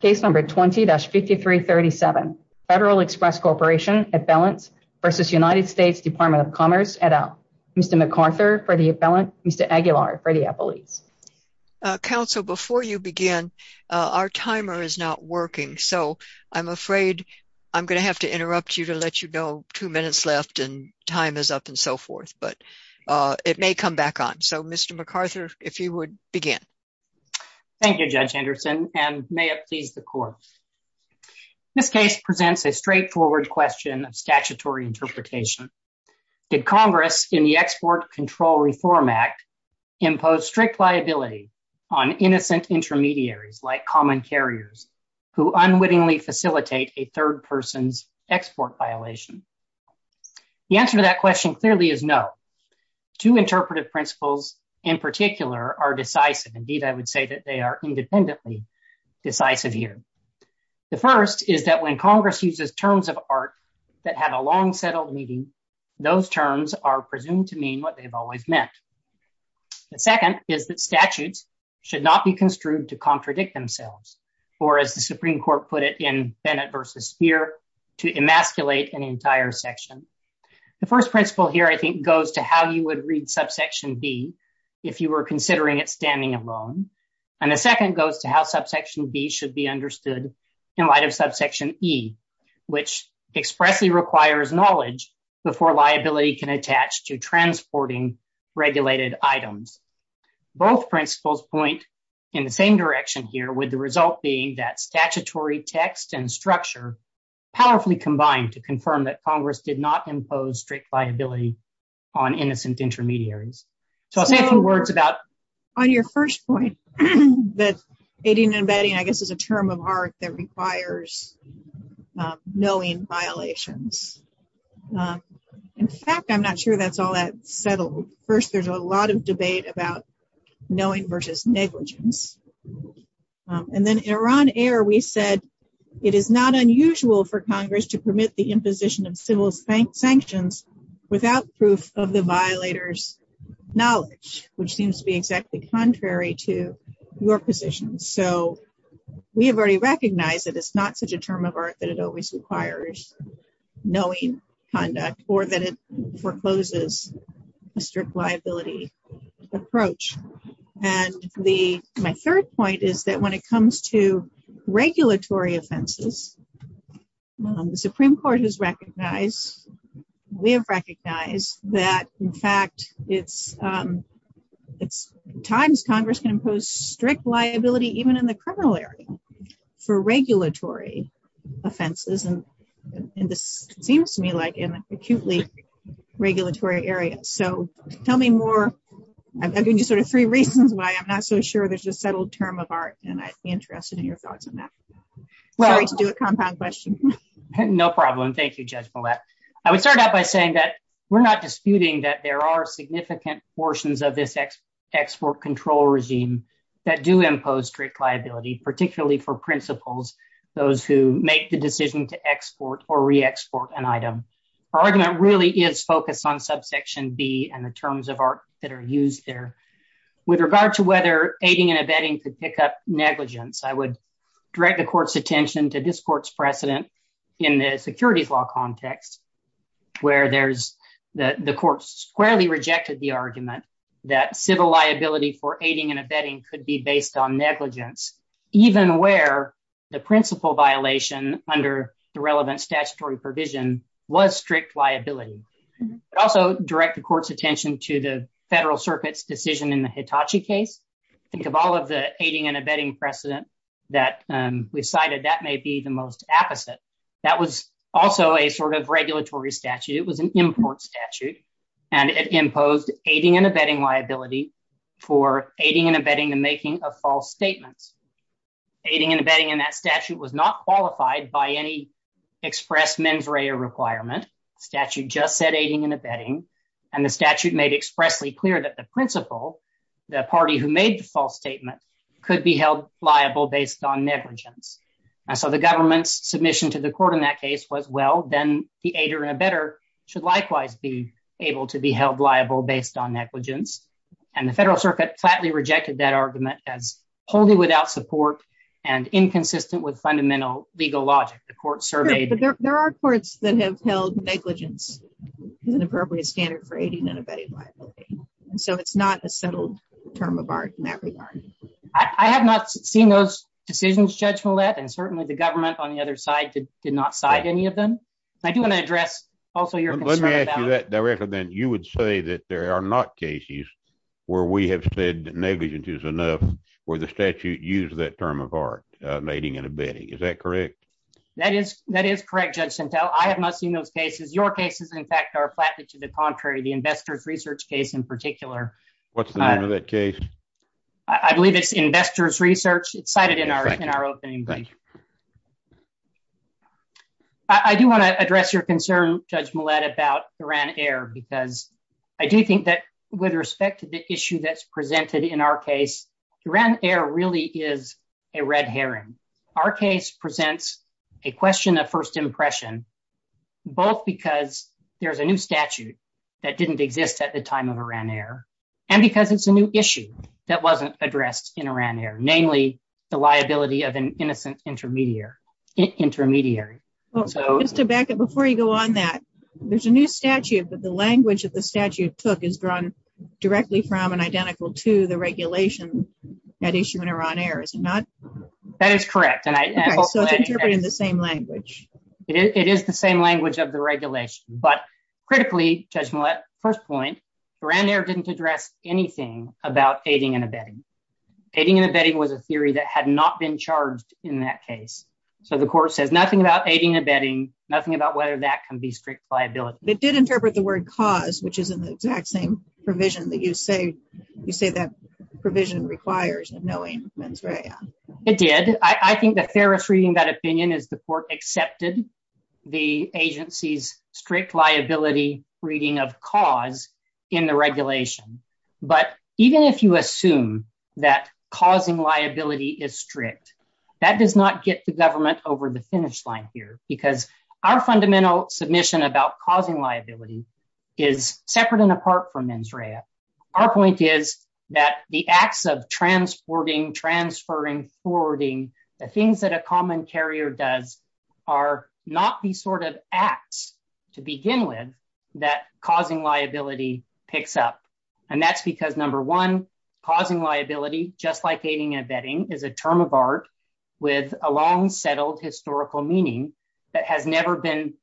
Case number 20-5337, Federal Express Corporation, Appellants v. United States Department of Commerce, et al. Mr. MacArthur for the appellant, Mr. Aguilar for the appellate. Counsel, before you begin, our timer is not working. So I'm afraid I'm going to have to interrupt you to let you know two minutes left and time is up and so forth. But it may come back on. So Mr. MacArthur, if you would begin. Thank you, Judge Henderson, and may it please the court. This case presents a straightforward question of statutory interpretation. Did Congress in the Export Control Reform Act impose strict liability on innocent intermediaries like common carriers who unwittingly facilitate a third person's export violation? The answer to that question clearly is no. Two interpretive principles in particular are decisive. Indeed, I would say that they are independently decisive here. The first is that when Congress uses terms of art that have a long settled meaning, those terms are presumed to mean what they've always meant. The second is that statutes should not be construed to contradict themselves, or as the Supreme Court put it in Bennett v. Speer, to emasculate an entire section. The first principle here, I think, goes to how you would read subsection B if you were considering it standing alone. And the second goes to how subsection B should be understood in light of subsection E, which expressly requires knowledge before liability can attach to transporting regulated items. Both principles point in the same direction here, with the result being that statutory text and structure powerfully combine to confirm that Congress did not impose strict liability on innocent intermediaries. So I'll say a few words about... On your first point, that aiding and abetting, I guess, is a term of art that requires knowing violations. In fact, I'm not sure that's all that settled. First, there's a lot of debate about knowing versus negligence. And then in Iran Air, we said, it is not unusual for Congress to permit the imposition of civil sanctions without proof of the violator's knowledge, which seems to be exactly contrary to your position. So we have already recognized that it's not such a term of art that it always requires knowing conduct, or that it forecloses a strict liability approach. And my third point is that when it comes to regulatory offenses, the Supreme Court has recognized, we have recognized, that in fact, it's times Congress can impose strict liability even in the criminal area for regulatory offenses. And this seems to me like an acutely regulatory area. So tell me more. I've given you sort of three reasons why I'm not so sure there's a settled term of art, and I'd be interested in your thoughts on that. Sorry to do a compound question. No problem. Thank you, Judge Millett. I would start out by saying that we're not disputing that there are significant portions of this export control regime that do impose strict liability, particularly for principals, those who make the decision to export or re-export an item. Our argument really is focused on subsection B and the terms of art that are used there. With regard to whether aiding and abetting could pick up negligence, I would direct the court's attention to this court's precedent in the securities law context, where the court squarely rejected the argument that civil liability for aiding and abetting could be based on negligence, even where the principal violation under the relevant statutory provision was strict liability. I'd also direct the court's attention to the Federal Circuit's decision in the Hitachi case. Think of all of the aiding and abetting precedent that we've cited, that may be the most apposite. That was also a sort of regulatory statute. It was an import statute, and it imposed aiding and abetting liability for aiding and abetting the making of false statements. Aiding and abetting in that statute was not qualified by any express mens rea requirement. The statute just said aiding and abetting, and the statute made expressly clear that the principal, the party who made the false statement, could be held liable based on negligence. And so the government's submission to the court in that case was, well, then the aider and abetter should likewise be able to be held liable based on negligence. And the Federal Circuit flatly rejected that argument as wholly without support and inconsistent with fundamental legal logic. There are courts that have held negligence as an appropriate standard for aiding and abetting liability. And so it's not a settled term of art in that regard. I have not seen those decisions, Judge Millett, and certainly the government on the other side did not cite any of them. I do want to address also your concern about- Let me ask you that directly, then. You would say that there are not cases where we have said negligence is enough where the statute used that term of art, aiding and abetting. Is that correct? That is correct, Judge Sentelle. I have not seen those cases. Your cases, in fact, are flatly to the contrary, the investors' research case in particular. What's the name of that case? I believe it's investors' research. It's cited in our opening. Thank you. I do want to address your concern, Judge Millett, about Iran Air, because I do think that with respect to the issue that's presented in our case, Iran Air really is a red herring. Our case presents a question of first impression, both because there's a new statute that didn't exist at the time of Iran Air, and because it's a new issue that wasn't addressed in Iran Air, namely the liability of an innocent intermediary. Mr. Beckett, before you go on that, there's a new statute, but the language that the statute took is drawn directly from and identical to the regulation at issue in Iran Air, is it not? That is correct. Okay, so it's interpreting the same language. It is the same language of the regulation, but critically, Judge Millett, first point, Iran Air didn't address anything about aiding and abetting. Aiding and abetting was a theory that had not been charged in that case. So the court says nothing about aiding and abetting, nothing about whether that can be strict liability. It did interpret the word cause, which is in the exact same provision that you say that provision requires of knowing mens rea. It did. I think the fairest reading that opinion is the court accepted the agency's strict liability reading of cause in the regulation. But even if you assume that causing liability is strict, that does not get the government over the finish line here, because our fundamental submission about causing liability is separate and apart from mens rea. Our point is that the acts of transporting, transferring, forwarding, the things that a common carrier does are not the sort of acts to begin with that causing liability picks up. And that's because number one, causing liability, just like aiding and abetting, is a term of art with a long settled historical meaning that has never been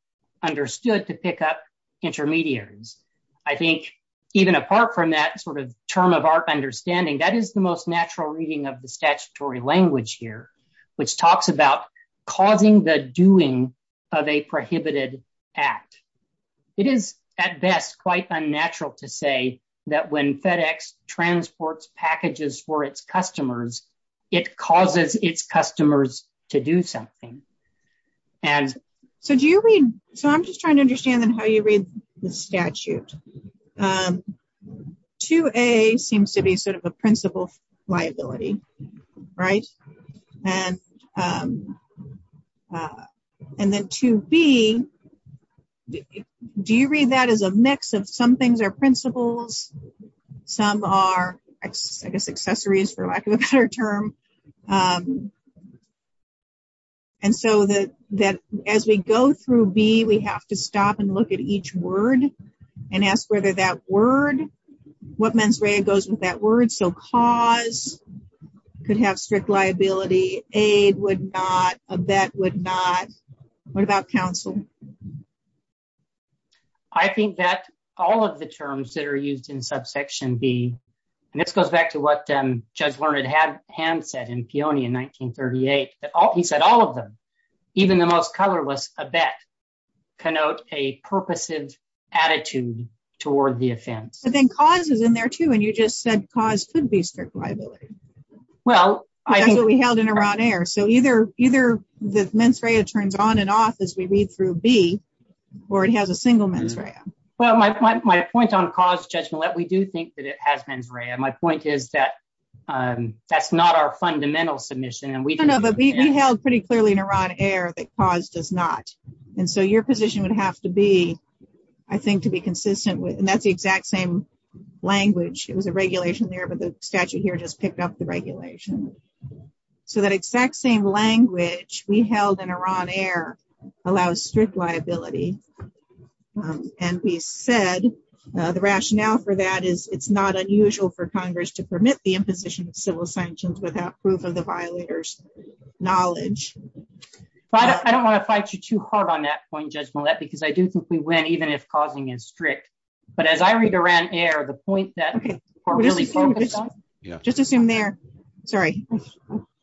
understood to pick up intermediaries. I think even apart from that sort of term of art understanding, that is the most natural reading of the statutory language here, which talks about causing the doing of a prohibited act. It is at best quite unnatural to say that when FedEx transports packages for its customers, it causes its customers to do something. So do you read... So I'm just trying to understand then how you read the statute. 2A seems to be sort of a principle of liability, right? And then 2B, do you read that as a mix of some things are principles, some are, I guess, accessories for lack of a better term. And so that as we go through B, we have to stop and look at each word and ask whether that word, what mens rea goes with that word. So cause could have strict liability, aid would not, abet would not. What about counsel? I think that all of the terms that are used in subsection B, and this goes back to what Judge Learned had said in Peony in 1938, he said all of them, even the most colorless abet, connote a purposive attitude toward the offense. But then cause is in there too, and you just said cause could be strict liability. Well, I think- That's what we held in Iran Air. So either the mens rea turns on and off as we read through B, or it has a single mens rea. Well, my point on cause, Judge Millett, we do think that it has mens rea. My point is that that's not our fundamental submission. And we- No, no, but we held pretty clearly in Iran Air that cause does not. And so your position would have to be, I think to be consistent with, and that's the exact same language. It was a regulation there, but the statute here just picked up the regulation. So that exact same language we held in Iran Air allows strict liability. And we said the rationale for that is it's not unusual for Congress to permit the imposition of civil sanctions without proof of the violator's knowledge. But I don't want to fight you too hard on that point, Judge Millett, because I do think we win even if causing is strict. But as I read Iran Air, the point that we're really focused on- Just assume there, sorry,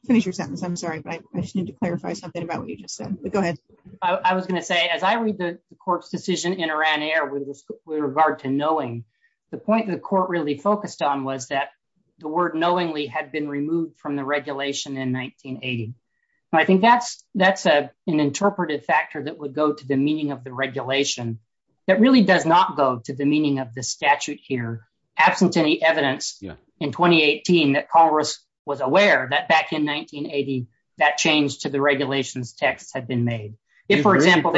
finish your sentence. I'm sorry, but I just need to clarify something about what you just said, but go ahead. I was gonna say, as I read the court's decision in Iran Air with regard to knowing, the point that the court really focused on was that the word knowingly had been removed from the regulation in 1980. And I think that's an interpreted factor that would go to the meaning of the regulation that really does not go to the meaning of the statute here absent any evidence in 2018 that Congress was aware that back in 1980, that change to the regulations texts had been made. If, for example-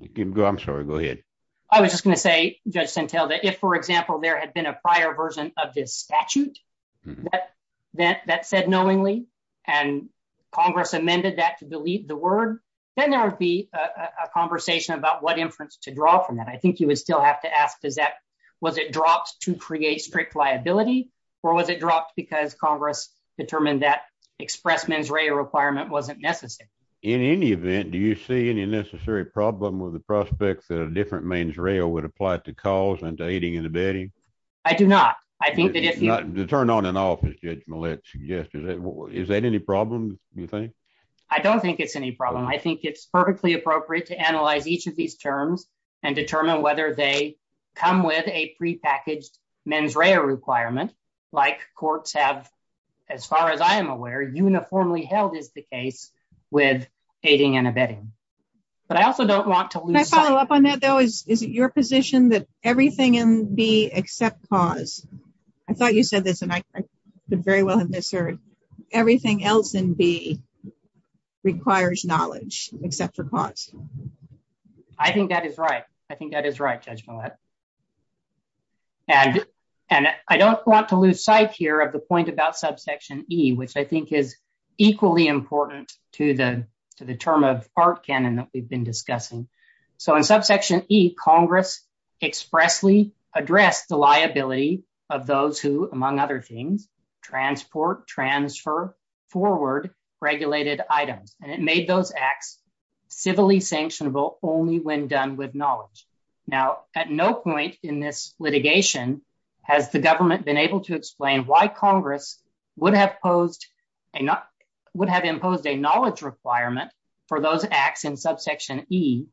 You can go, I'm sorry, go ahead. I was just gonna say, Judge Santel, that if, for example, there had been a prior version of this statute that said knowingly, and Congress amended that to delete the word, then there would be a conversation about what inference to draw from that. I think you would still have to ask, was it dropped to create strict liability or was it dropped because Congress determined that express mens rea requirement wasn't necessary? In any event, do you see any necessary problem with the prospects that a different mens rea would apply to cause and to aiding and abetting? I do not. I think that if you- To turn on and off, as Judge Millett suggested, is that any problem, do you think? I don't think it's any problem. I think it's perfectly appropriate to analyze each of these terms and determine whether they come with a prepackaged mens rea requirement, like courts have, as far as I am aware, uniformly held is the case with aiding and abetting. But I also don't want to lose- Can I follow up on that, though? Is it your position that everything in B except cause? I thought you said this and I could very well have misheard. Everything else in B requires knowledge except for cause. I think that is right. I think that is right, Judge Millett. And I don't want to lose sight here of the point about subsection E, which I think is equally important to the term of art canon that we've been discussing. So in subsection E, Congress expressly addressed the liability of those who, among other things, transport, transfer forward regulated items. And it made those acts civilly sanctionable only when done with knowledge. Now, at no point in this litigation has the government been able to explain why Congress would have imposed a knowledge requirement for those acts in subsection E,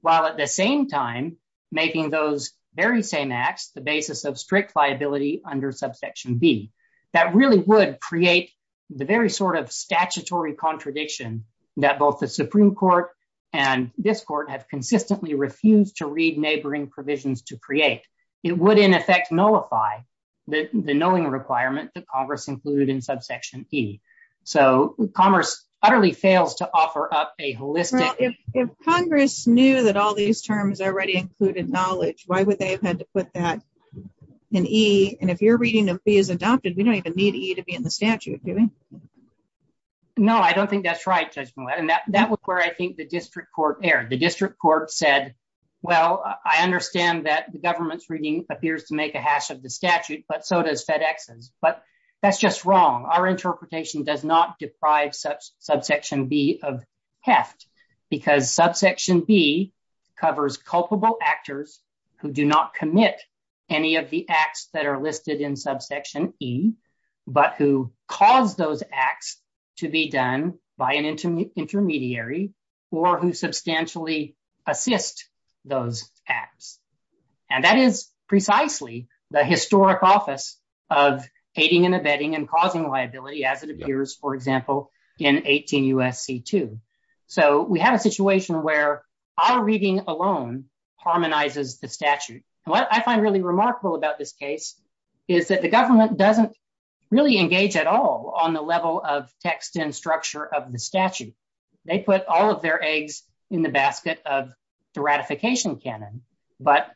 while at the same time making those very same acts the basis of strict liability under subsection B. That really would create the very sort of statutory contradiction that both the Supreme Court and this court have consistently refused to read neighboring provisions to create. It would in effect nullify the knowing requirement that Congress included in subsection E. So Commerce utterly fails to offer up a holistic- If Congress knew that all these terms already included knowledge, why would they have had to put that in E? And if your reading of B is adopted, we don't even need E to be in the statute, do we? No, I don't think that's right, Judge Millett. And that was where I think the district court erred. The district court said, well, I understand that the government's reading appears to make a hash of the statute, but so does FedEx's. But that's just wrong. Our interpretation does not deprive subsection B of heft because subsection B covers culpable actors who do not commit any of the acts that are listed in subsection E, but who cause those acts to be done by an intermediary, or who substantially assist those acts. And that is precisely the historic office of aiding and abetting and causing liability, as it appears, for example, in 18 U.S.C. 2. So we have a situation where our reading alone harmonizes the statute. And what I find really remarkable about this case is that the government doesn't really engage at all on the level of text and structure of the statute. They put all of their eggs in the basket of the ratification canon, but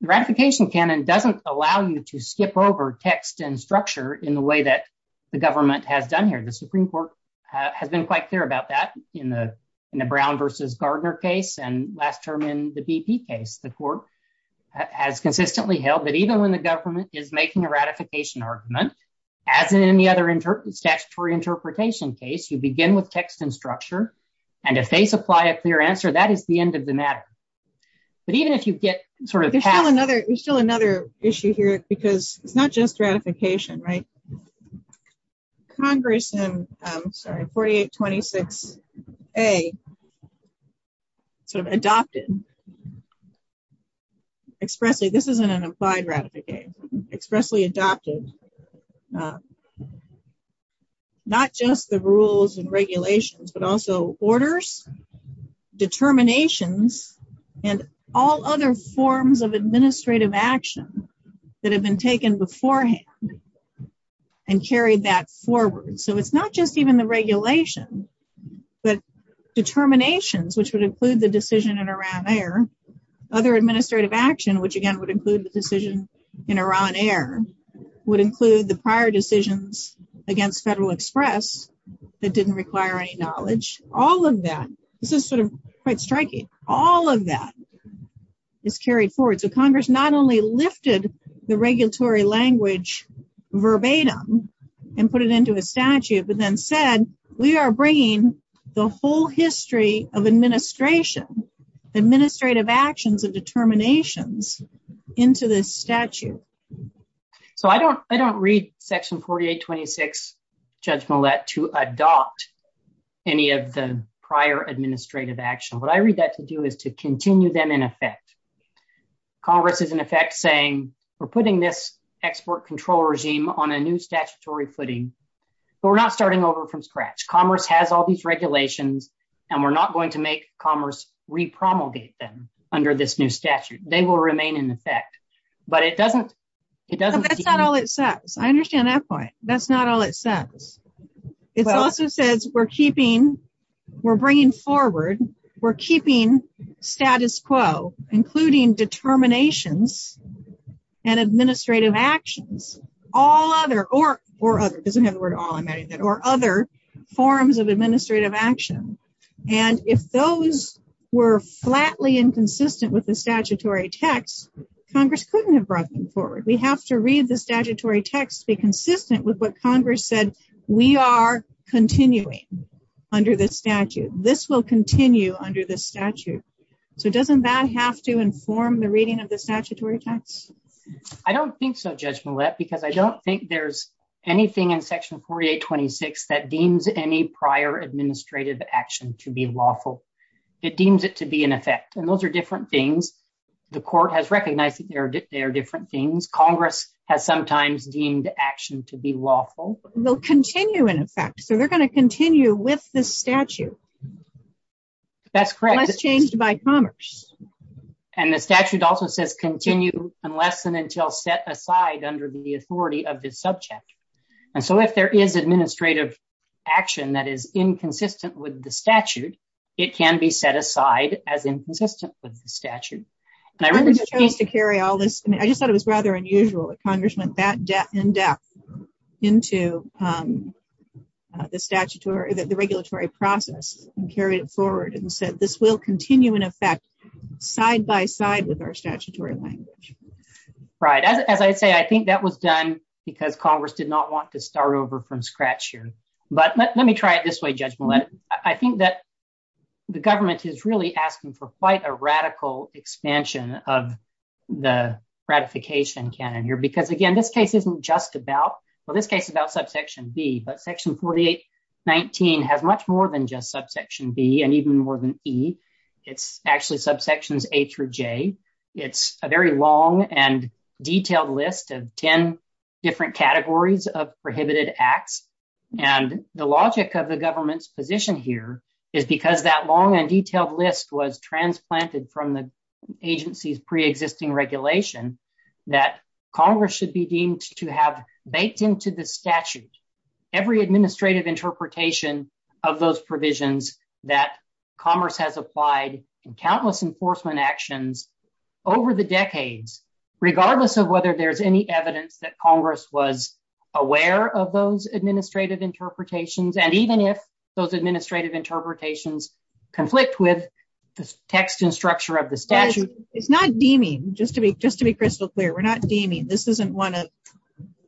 the ratification canon doesn't allow you to skip over text and structure in the way that the government has done here. The Supreme Court has been quite clear about that in the Brown versus Gardner case, and last term in the BP case. The court has consistently held that even when the government is making a ratification argument, as in any other statutory interpretation case, you begin with text and structure, and if they supply a clear answer, that is the end of the matter. But even if you get sort of past- There's still another issue here, because it's not just ratification, right? Congress in, I'm sorry, 4826A sort of adopted expressly, this isn't an applied ratification, expressly adopted, but not just the rules and regulations, but also orders, determinations, and all other forms of administrative action that have been taken beforehand and carried that forward. So it's not just even the regulation, but determinations, which would include the decision in Iran Air, other administrative action, which again would include the decision in Iran Air, would include the prior decisions against Federal Express that didn't require any knowledge. All of that, this is sort of quite striking, all of that is carried forward. So Congress not only lifted the regulatory language verbatim and put it into a statute, but then said, we are bringing the whole history of administration, administrative actions and determinations into this statute. So I don't read section 4826, Judge Millett, to adopt any of the prior administrative action. What I read that to do is to continue them in effect. Congress is in effect saying, we're putting this export control regime on a new statutory footing, but we're not starting over from scratch. Commerce has all these regulations and we're not going to make commerce repromulgate them under this new statute. They will remain in effect, but it doesn't- It doesn't- That's not all it says. I understand that point. That's not all it says. It also says we're keeping, we're bringing forward, we're keeping status quo, including determinations and administrative actions, all other, or other, it doesn't have the word all, I'm adding that, or other forms of administrative action. And if those were flatly inconsistent with the statutory text, Congress couldn't have brought them forward. We have to read the statutory text to be consistent with what Congress said. We are continuing under this statute. This will continue under this statute. So doesn't that have to inform the reading of the statutory text? I don't think so, Judge Millett, because I don't think there's anything in section 4826 that deems any prior administrative action to be lawful. It deems it to be in effect. And those are different things. The court has recognized that they are different things. Congress has sometimes deemed action to be lawful. They'll continue in effect. So they're going to continue with this statute. That's correct. Unless changed by commerce. And the statute also says continue unless and until set aside under the authority of this subject. And so if there is administrative action that is inconsistent with the statute, it can be set aside as inconsistent with the statute. And I remember- Congress chose to carry all this. I mean, I just thought it was rather unusual that Congress went that in depth into the regulatory process and carried it forward and said, this will continue in effect side by side with our statutory language. Right. As I say, I think that was done because Congress did not want to start over from scratch. But let me try it this way, Judge Millett. I think that the government is really asking for quite a radical expansion of the ratification canon here. Because again, this case isn't just about, well, this case is about subsection B, but section 4819 has much more than just subsection B and even more than E. It's actually subsections A through J. It's a very long and detailed list of 10 different categories of prohibited acts. And the logic of the government's position here is because that long and detailed list was transplanted from the agency's preexisting regulation that Congress should be deemed to have baked into the statute every administrative interpretation of those provisions that Commerce has applied in countless enforcement actions over the decades, regardless of whether there's any evidence that Congress was aware of those administrative interpretations. And even if those administrative interpretations conflict with the text and structure of the statute. It's not deeming, just to be crystal clear. We're not deeming. This isn't one of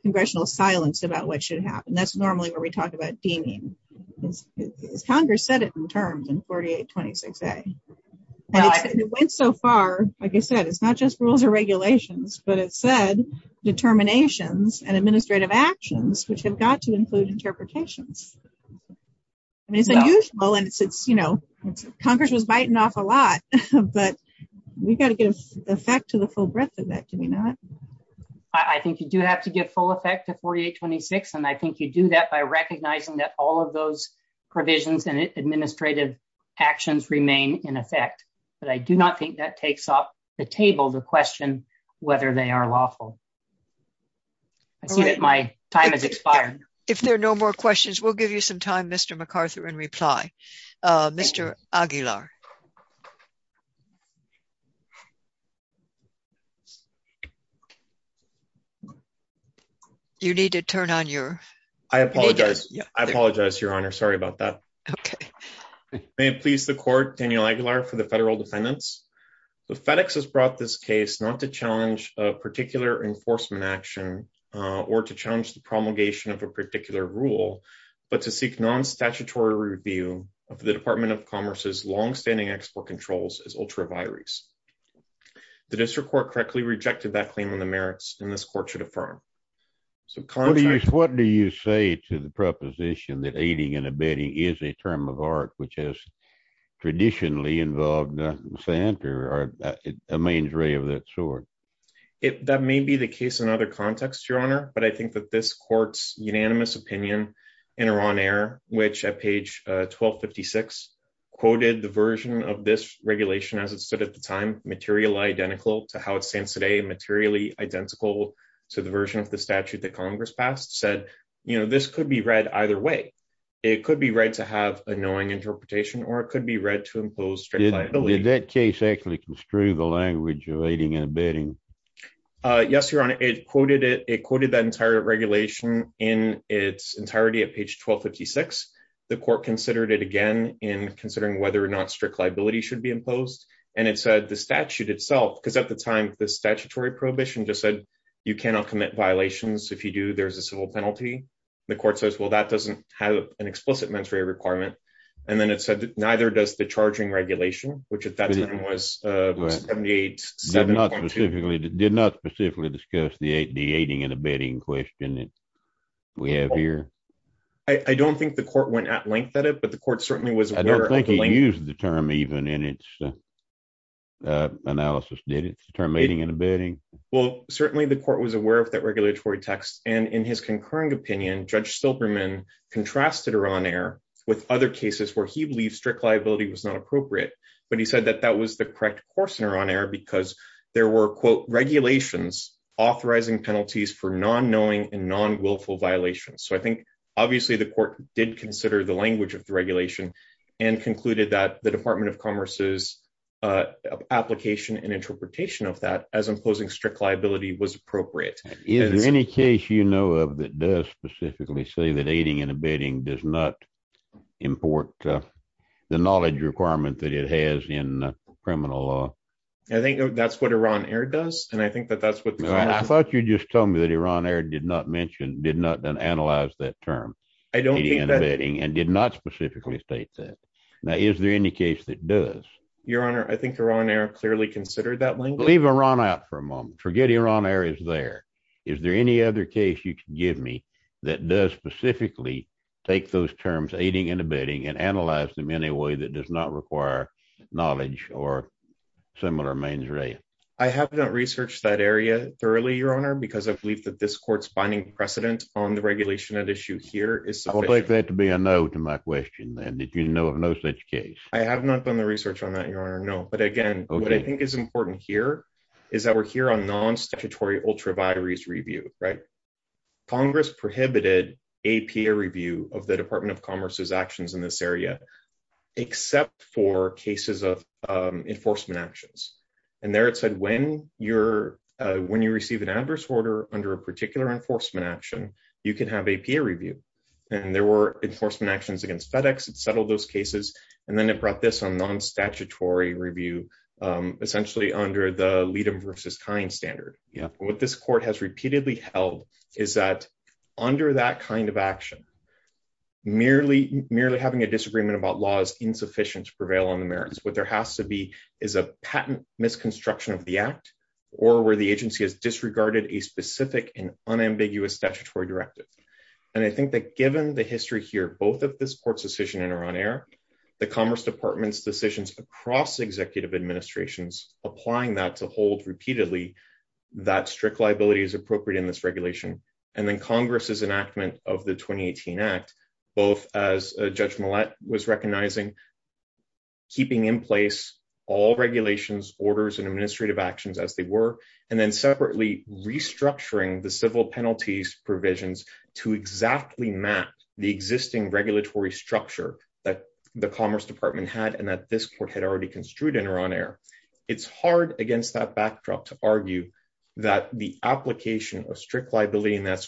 congressional silence about what should happen. That's normally where we talk about deeming. Congress said it in terms in 4826A. And it went so far, like I said, it's not just rules or regulations, but it said determinations and administrative actions, which have got to include interpretations. I mean, it's unusual and it's, you know, Congress was biting off a lot, but we've got to give effect to the full breadth of that, do we not? I think you do have to give full effect to 4826. And I think you do that by recognizing that all of those provisions and administrative actions remain in effect. But I do not think that takes off the table, the question whether they are lawful. I see that my time has expired. If there are no more questions, we'll give you some time, Mr. McArthur, in reply. Mr. Aguilar. You need to turn on your- I apologize. I apologize, Your Honor. Sorry about that. Okay. May it please the court, Daniel Aguilar for the federal defendants. The FedEx has brought this case not to challenge a particular enforcement action or to challenge the promulgation of a particular rule, but to seek non-statutory review of the Department of Commerce's longstanding export controls as ultraviaries. The district court correctly rejected that claim on the merits and this court should affirm. So- What do you say to the proposition that aiding and abetting is a term of art, which has traditionally involved the Santa or a mains ray of that sort? That may be the case in other contexts, Your Honor, but I think that this court's unanimous opinion in Iran Air, which at page 1256, quoted the version of this regulation as it stood at the time, material identical to how it stands today and materially identical to the version of the statute that Congress passed, said, this could be read either way. It could be read to have a knowing interpretation or it could be read to impose strict liability. Did that case actually construe the language of aiding and abetting? Yes, Your Honor, it quoted that entire regulation in its entirety at page 1256. The court considered it again in considering whether or not strict liability should be imposed. And it said the statute itself, because at the time, the statutory prohibition just said, you cannot commit violations. If you do, there's a civil penalty. The court says, well, that doesn't have an explicit mentory requirement. And then it said, neither does the charging regulation, which at that time was 78-7.2. Did not specifically discuss the aiding and abetting question that we have here. I don't think the court went at length at it, but the court certainly was aware of the length. I don't think it used the term even in its analysis, did it, the term aiding and abetting? Well, certainly the court was aware of that regulatory text. And in his concurring opinion, Judge Silberman contrasted Iran Air with other cases where he believed strict liability was not appropriate. But he said that that was the correct course in Iran Air because there were, quote, regulations authorizing penalties for non-knowing and non-willful violations. So I think obviously the court did consider the language of the regulation and concluded that the Department of Commerce's application and interpretation of that as imposing strict liability was appropriate. Is there any case you know of that does specifically say that aiding and abetting does not import the knowledge requirement that it has in criminal law? I think that's what Iran Air does. And I think that that's what the court- I thought you just told me that Iran Air did not mention, did not analyze that term, aiding and abetting, and did not specifically state that. Now, is there any case that does? Your Honor, I think Iran Air clearly considered that language. Leave Iran out for a moment. Forget Iran Air is there. Is there any other case you can give me that does specifically take those terms, aiding and abetting, and analyze them in a way that does not require knowledge or similar mens rea? I have not researched that area thoroughly, Your Honor, because I believe that this court's binding precedent on the regulation at issue here is sufficient- I would like that to be a no to my question then, that you know of no such case. I have not done the research on that, Your Honor, no. But again, what I think is important here is that we're here on non-statutory ultraviaries review, right? Congress prohibited APA review of the Department of Commerce's actions in this area, except for cases of enforcement actions. And there it said, when you receive an adverse order under a particular enforcement action, you can have APA review. And there were enforcement actions against FedEx that settled those cases. And then it brought this on non-statutory review, essentially under the lead them versus kind standard. What this court has repeatedly held is that under that kind of action, merely having a disagreement about law is insufficient to prevail on the merits. What there has to be is a patent misconstruction of the act or where the agency has disregarded a specific and unambiguous statutory directive. And I think that given the history here, both of this court's decision are on air, the Commerce Department's decisions across executive administrations, applying that to hold repeatedly that strict liability is appropriate in this regulation. And then Congress's enactment of the 2018 Act, both as Judge Millett was recognizing, keeping in place all regulations, orders and administrative actions as they were, and then separately restructuring the civil penalties provisions to exactly map the existing regulatory structure that the Commerce Department had and that this court had already construed and are on air. It's hard against that backdrop to argue that the application of strict liability in that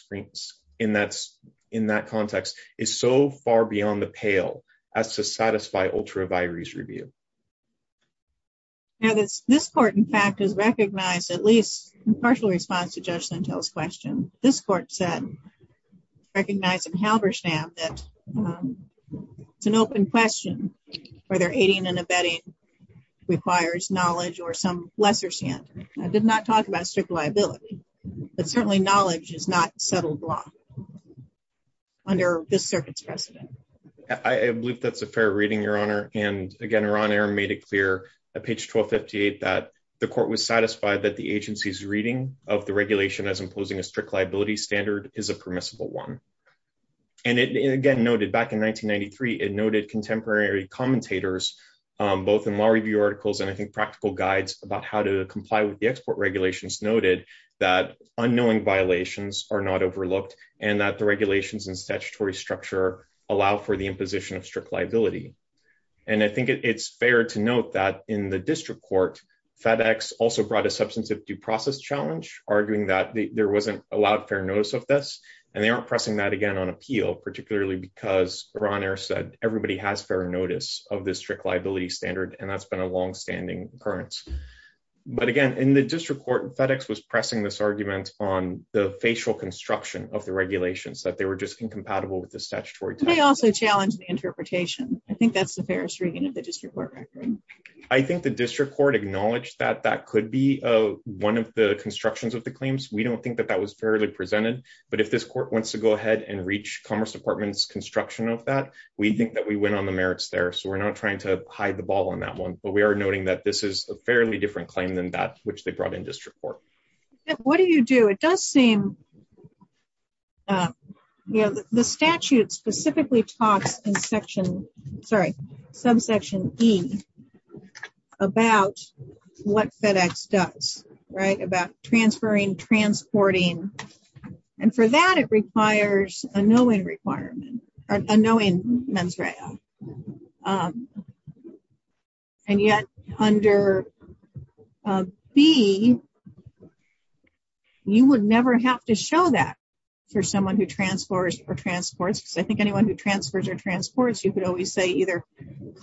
context is so far beyond the pale as to satisfy ultra vires review. Now this court, in fact, has recognized at least in partial response to Judge Lentil's question, this court said, recognized in Halberstam that it's an open question whether aiding and abetting requires knowledge or some lesser standard. I did not talk about strict liability, but certainly knowledge is not settled law under this circuit's precedent. I believe that's a fair reading, Your Honor. And again, Ron Arum made it clear at page 1258 that the court was satisfied that the agency's reading of the regulation as imposing a strict liability standard is a permissible one. And it again noted back in 1993, it noted contemporary commentators, both in law review articles and I think practical guides about how to comply with the export regulations noted that unknowing violations are not overlooked and that the regulations and statutory structure allow for the imposition of strict liability. And I think it's fair to note that in the district court, FedEx also brought a substantive due process challenge arguing that there wasn't allowed fair notice of this and they aren't pressing that again on appeal, particularly because Ron Arum said, everybody has fair notice of this strict liability standard and that's been a longstanding occurrence. But again, in the district court, FedEx was pressing this argument on the facial construction of the regulations that they were just incompatible with the statutory- They also challenged the interpretation. I think that's the fairest reading of the district court record. I think the district court acknowledged that that could be one of the constructions of the claims. We don't think that that was fairly presented, but if this court wants to go ahead and reach Commerce Department's construction of that, we think that we went on the merits there. So we're not trying to hide the ball on that one, but we are noting that this is a fairly different claim than that which they brought in district court. What do you do? It does seem, the statute specifically talks in section, sorry, subsection E about what FedEx does, right? And for that, it requires a no-in requirement, or a no-in mens rea. And yet under B, you would never have to show that for someone who transfers or transports, because I think anyone who transfers or transports, you could always say either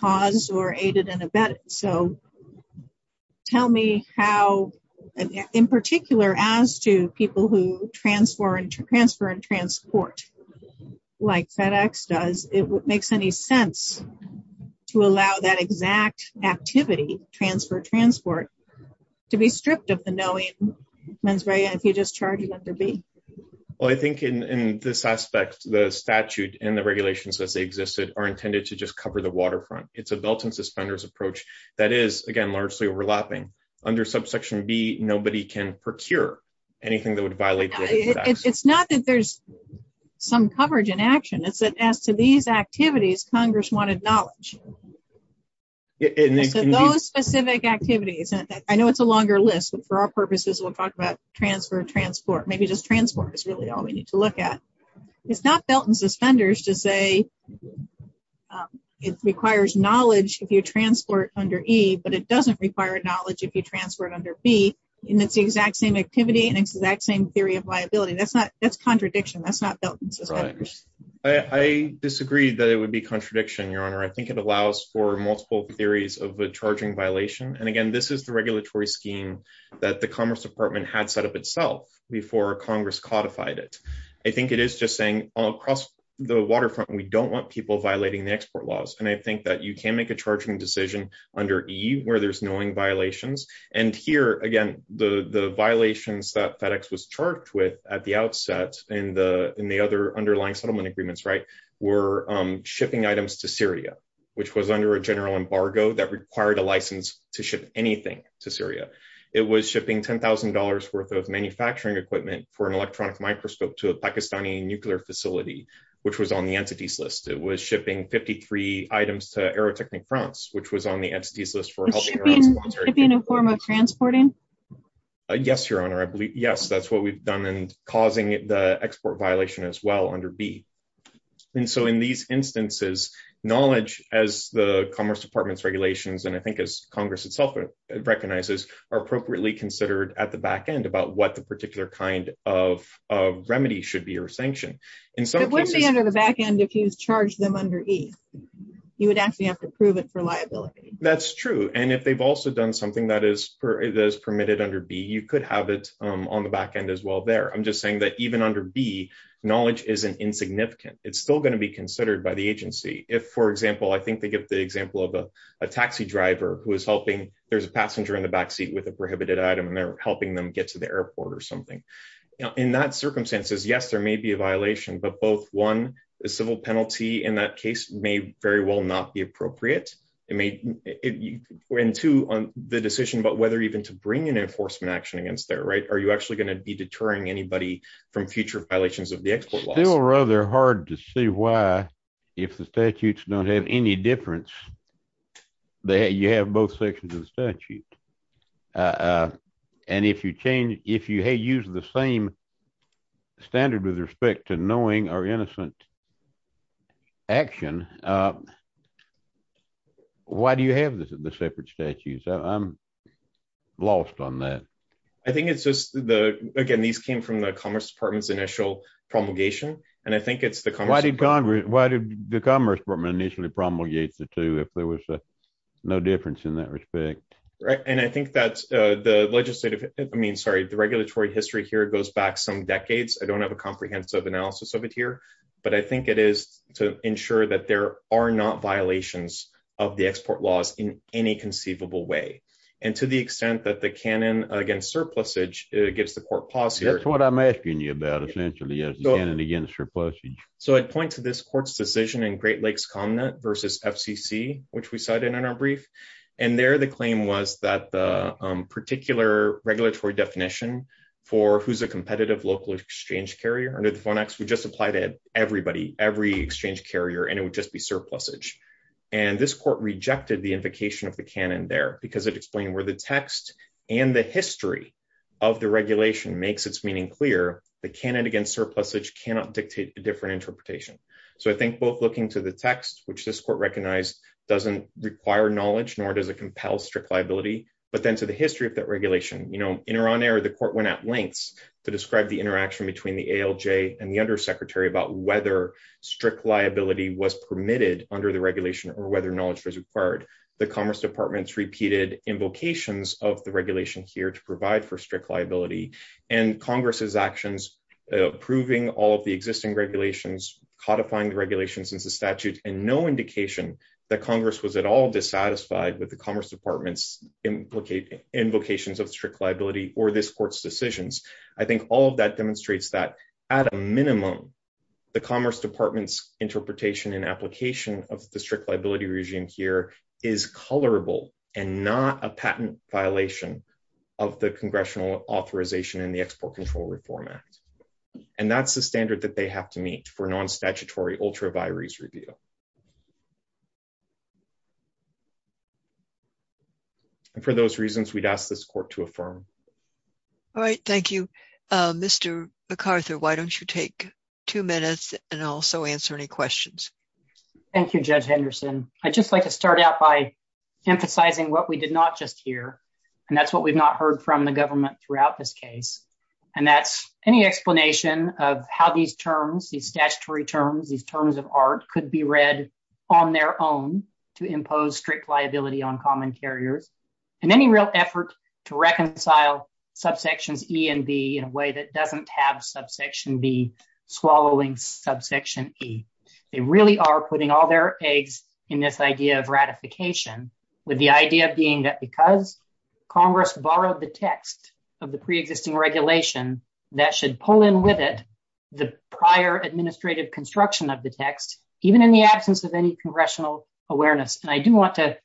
cause or aided and abetted. So tell me how, in particular, as to people who transfer and transport, like FedEx does, it makes any sense to allow that exact activity, transfer, transport, to be stripped of the no-in mens rea if you just charge it under B? Well, I think in this aspect, the statute and the regulations as they existed are intended to just cover the waterfront. It's a belt and suspenders approach that is, again, largely overlapping. Under subsection B, nobody can procure anything that would violate FedEx. It's not that there's some coverage in action, it's that as to these activities, Congress wanted knowledge. So those specific activities, and I know it's a longer list, but for our purposes, we'll talk about transfer, transport, maybe just transport is really all we need to look at. It's not belt and suspenders to say it requires knowledge if you transport under E, but it doesn't require knowledge if you transfer it under B, and it's the exact same activity and it's the exact same theory of liability. That's contradiction. That's not belt and suspenders. I disagree that it would be contradiction, Your Honor. I think it allows for multiple theories of a charging violation. And again, this is the regulatory scheme that the Commerce Department had set up itself before Congress codified it. I think it is just saying, all across the waterfront, we don't want people violating the export laws. And I think that you can make a charging decision under E where there's knowing violations. And here, again, the violations that FedEx was charged with at the outset in the other underlying settlement agreements were shipping items to Syria, which was under a general embargo that required a license to ship anything to Syria. It was shipping $10,000 worth of manufacturing equipment for an electronic microscope to a Pakistani nuclear facility, which was on the entities list. It was shipping 53 items to Aerotechnik France, which was on the entities list for- It should be in a form of transporting? Yes, Your Honor. I believe, yes, that's what we've done and causing the export violation as well under B. And so in these instances, knowledge as the Commerce Department's regulations, and I think as Congress itself recognizes, are appropriately considered at the back end about what the particular kind of remedy should be or sanction. In some cases- It wouldn't be under the back end if you charged them under E. You would actually have to prove it for liability. That's true. And if they've also done something that is permitted under B, you could have it on the back end as well there. I'm just saying that even under B, knowledge isn't insignificant. It's still gonna be considered by the agency. If, for example, I think they give the example of a taxi driver who is helping, there's a passenger in the back seat with a prohibited item, and they're helping them get to the airport or something. In that circumstances, yes, there may be a violation, but both one, a civil penalty in that case may very well not be appropriate. It may, and two, on the decision about whether even to bring an enforcement action against there, right? Are you actually gonna be deterring anybody from future violations of the export laws? It's still rather hard to see why if the statutes don't have any difference, you have both sections of the statute. And if you change, if you use the same standard with respect to knowing or innocent action, why do you have the separate statutes? I'm lost on that. I think it's just the, again, these came from the Commerce Department's initial promulgation. And I think it's the Commerce Department- Why did the Commerce Department initially promulgate the two if there was no difference in that respect? Right, and I think that the legislative, I mean, sorry, the regulatory history here goes back some decades. I don't have a comprehensive analysis of it here, but I think it is to ensure that there are not violations of the export laws in any conceivable way. And to the extent that the canon against surplusage gives the court pause here- That's what I'm asking you about, essentially, is the canon against surplusage. So I'd point to this court's decision in Great Lakes ComNet versus FCC, which we cited in our brief. And there, the claim was that the particular regulatory definition for who's a competitive local exchange carrier under the FONACs would just apply to everybody, every exchange carrier, and it would just be surplusage. And this court rejected the invocation of the canon there because it explained where the text and the history of the regulation makes its meaning clear, the canon against surplusage cannot dictate a different interpretation. So I think both looking to the text, which this court recognized doesn't require knowledge nor does it compel strict liability, but then to the history of that regulation. In her honor, the court went at lengths to describe the interaction between the ALJ and the undersecretary about whether strict liability was permitted under the regulation or whether knowledge was required. The Commerce Department's repeated invocations of the regulation here to provide for strict liability and Congress's actions, approving all of the existing regulations, codifying the regulations into statute, and no indication that Congress was at all dissatisfied with the Commerce Department's invocations of strict liability or this court's decisions. I think all of that demonstrates that at a minimum, the Commerce Department's interpretation and application of the strict liability regime here is colorable and not a patent violation of the congressional authorization in the Export Control Reform Act. And that's the standard that they have to meet for non-statutory ultra vires review. And for those reasons, we'd ask this court to affirm. All right, thank you. Mr. McArthur, why don't you take two minutes and also answer any questions? Thank you, Judge Henderson. I'd just like to start out by emphasizing what we did not just hear, and that's what we've not heard from the government throughout this case. And that's any explanation of how these terms, these statutory terms, these terms of art could be reused in the future. I think that it's worth noting that Congress is not just trying to make a re-read on their own to impose strict liability on common carriers and any real effort to reconcile subsections E and B in a way that it doesn't have subsection B swallowing subsection E. They really are putting all their eggs in this idea of ratification, with the idea being that because Congress borrowed the text of the preexisting regulation, that should pull in with it the prior administrative construction of the text, even in the absence of any congressional awareness. And I do want to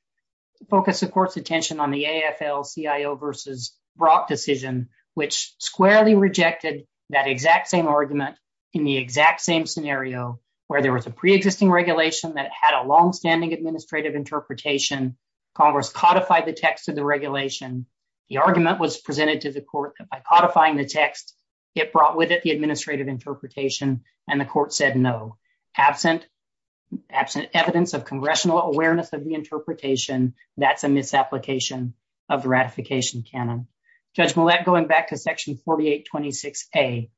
focus the court's attention on the AFL-CIO versus Brock decision, which squarely rejected that exact same argument in the exact same scenario where there was a preexisting regulation that had a longstanding administrative interpretation. Congress codified the text of the regulation. The argument was presented to the court that by codifying the text, it brought with it the administrative interpretation and the court said, no. Absent evidence of congressional awareness of the interpretation, that's a misapplication of the ratification canon. Judge Millett, going back to section 4826A,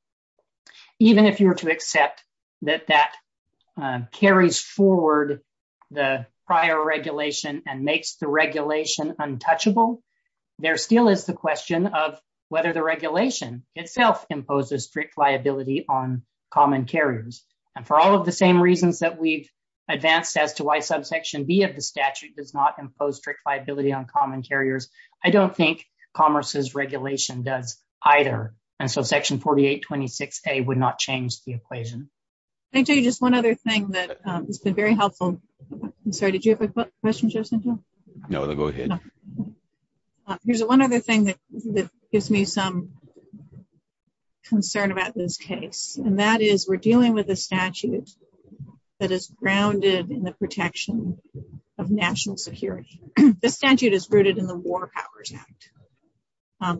even if you were to accept that that carries forward the prior regulation and makes the regulation untouchable, there still is the question of whether the regulation itself imposes strict liability on common carriers. And for all of the same reasons that we've advanced as to why subsection B of the statute does not impose strict liability on common carriers, I don't think Congress's regulation does either. And so section 4826A would not change the equation. I'll tell you just one other thing that has been very helpful. I'm sorry, did you have a question, Joe Santel? No, go ahead. Here's one other thing that gives me some concern about this case. And that is we're dealing with a statute that is grounded in the protection of national security. The statute is rooted in the War Powers Act.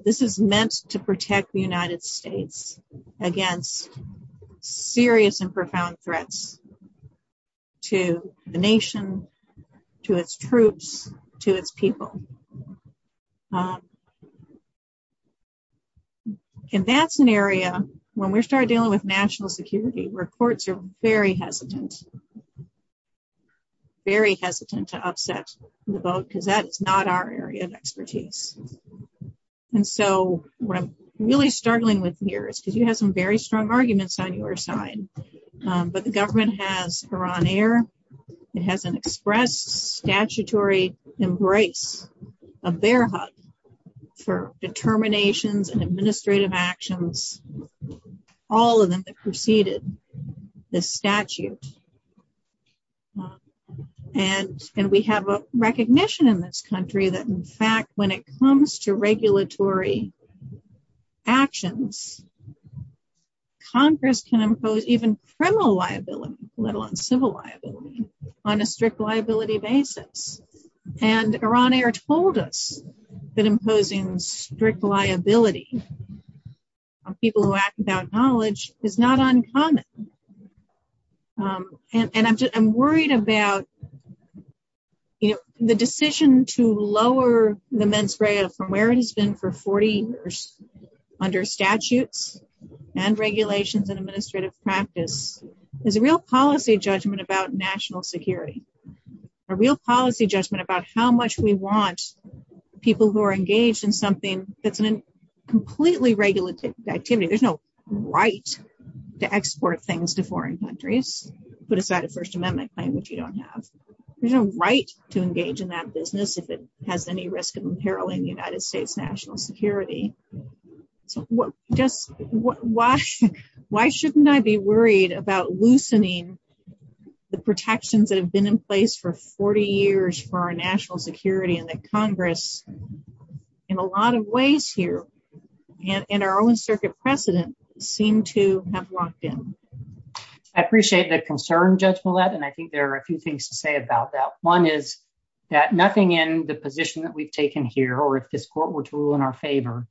This is meant to protect the United States against serious and profound threats to the nation, to its troops, to its people. In that scenario, when we started dealing with national security where courts are very hesitant, very hesitant to upset the vote because that is not our area of expertise. And so what I'm really struggling with here is because you have some very strong arguments on your side, but the government has Iran Air. It has an express statutory embrace, a bear hug for determinations and administrative actions, all of them that preceded the statute. And we have a recognition in this country that in fact, when it comes to regulatory actions, Congress can impose even criminal liability, let alone civil liability on a strict liability basis. And Iran Air told us that imposing strict liability on people who act without knowledge is not uncommon. And I'm worried about the decision to lower the mens rea from where it has been for 40 years under statutes and regulations and administrative practice is a real policy judgment about national security, a real policy judgment about how much we want people who are engaged in something that's a completely regulated activity. There's no right to export things to foreign countries, put aside a first amendment claim, which you don't have. There's no right to engage in that business if it has any risk of imperiling the United States national security. So just why shouldn't I be worried about loosening the protections that have been in place for 40 years for our national security and that Congress in a lot of ways here and our own circuit precedent seem to have locked in. I appreciate the concern Judge Millett and I think there are a few things to say about that. One is that nothing in the position that we've taken here or if this court were to rule in our favor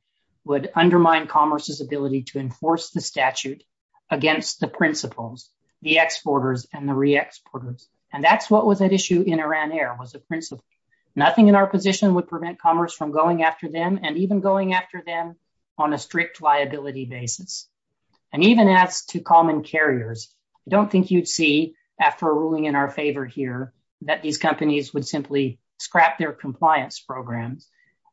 would undermine commerce's ability to enforce the statute against the principles, the exporters and the re-exporters. And that's what was at issue in Iran Air was a principle. Nothing in our position would prevent commerce from going after them and even going after them on a strict liability basis. And even as to common carriers, I don't think you'd see after a ruling in our favor here that these companies would simply scrap their compliance programs.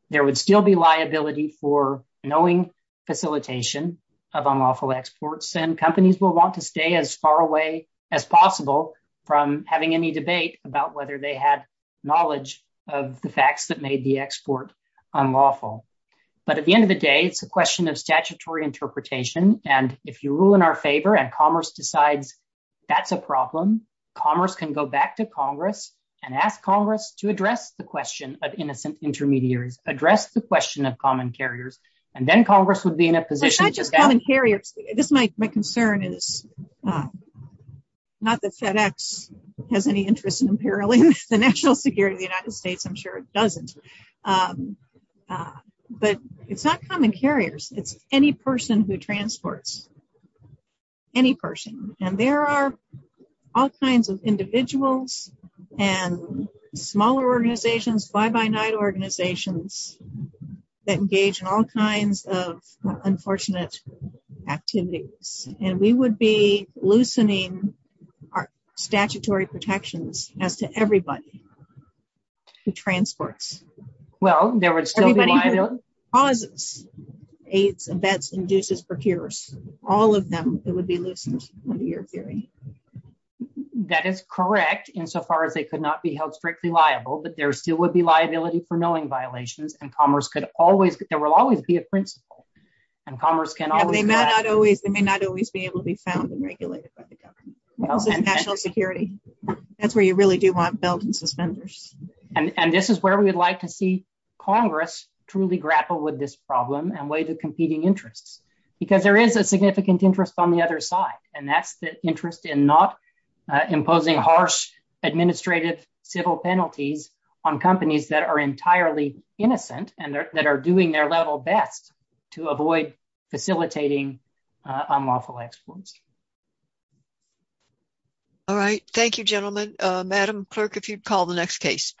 There would still be liability for knowing facilitation of unlawful exports and companies will want to stay as far away as possible from having any debate about whether they had knowledge of the facts that made the export unlawful. But at the end of the day, it's a question of statutory interpretation. And if you rule in our favor and commerce decides that's a problem, commerce can go back to Congress and ask Congress to address the question of innocent intermediaries, address the question of common carriers. And then Congress would be in a position to- It's not just common carriers. This is my concern is not that FedEx has any interest in imperiling the national security of the United States. I'm sure it doesn't, but it's not common carriers. It's any person who transports, any person. And there are all kinds of individuals and smaller organizations, by-by-night organizations that engage in all kinds of unfortunate activities. And we would be loosening our statutory protections as to everybody who transports. Well, there would still be liability- Everybody who causes AIDS and VETS, induces, procures, all of them, it would be loosened. That is correct, insofar as they could not be held strictly liable, but there still would be liability for knowing violations and commerce could always, there will always be a principle and commerce can always- Yeah, but they may not always, they may not always be able to be found and regulated by the government. Also national security. That's where you really do want belt and suspenders. And this is where we would like to see Congress truly grapple with this problem and weigh the competing interests, because there is a significant interest on the other side. And that's the interest in not imposing harsh administrative civil penalties on companies that are entirely innocent and that are doing their level best to avoid facilitating unlawful exploits. All right, thank you, gentlemen. Madam Clerk, if you'd call the next case.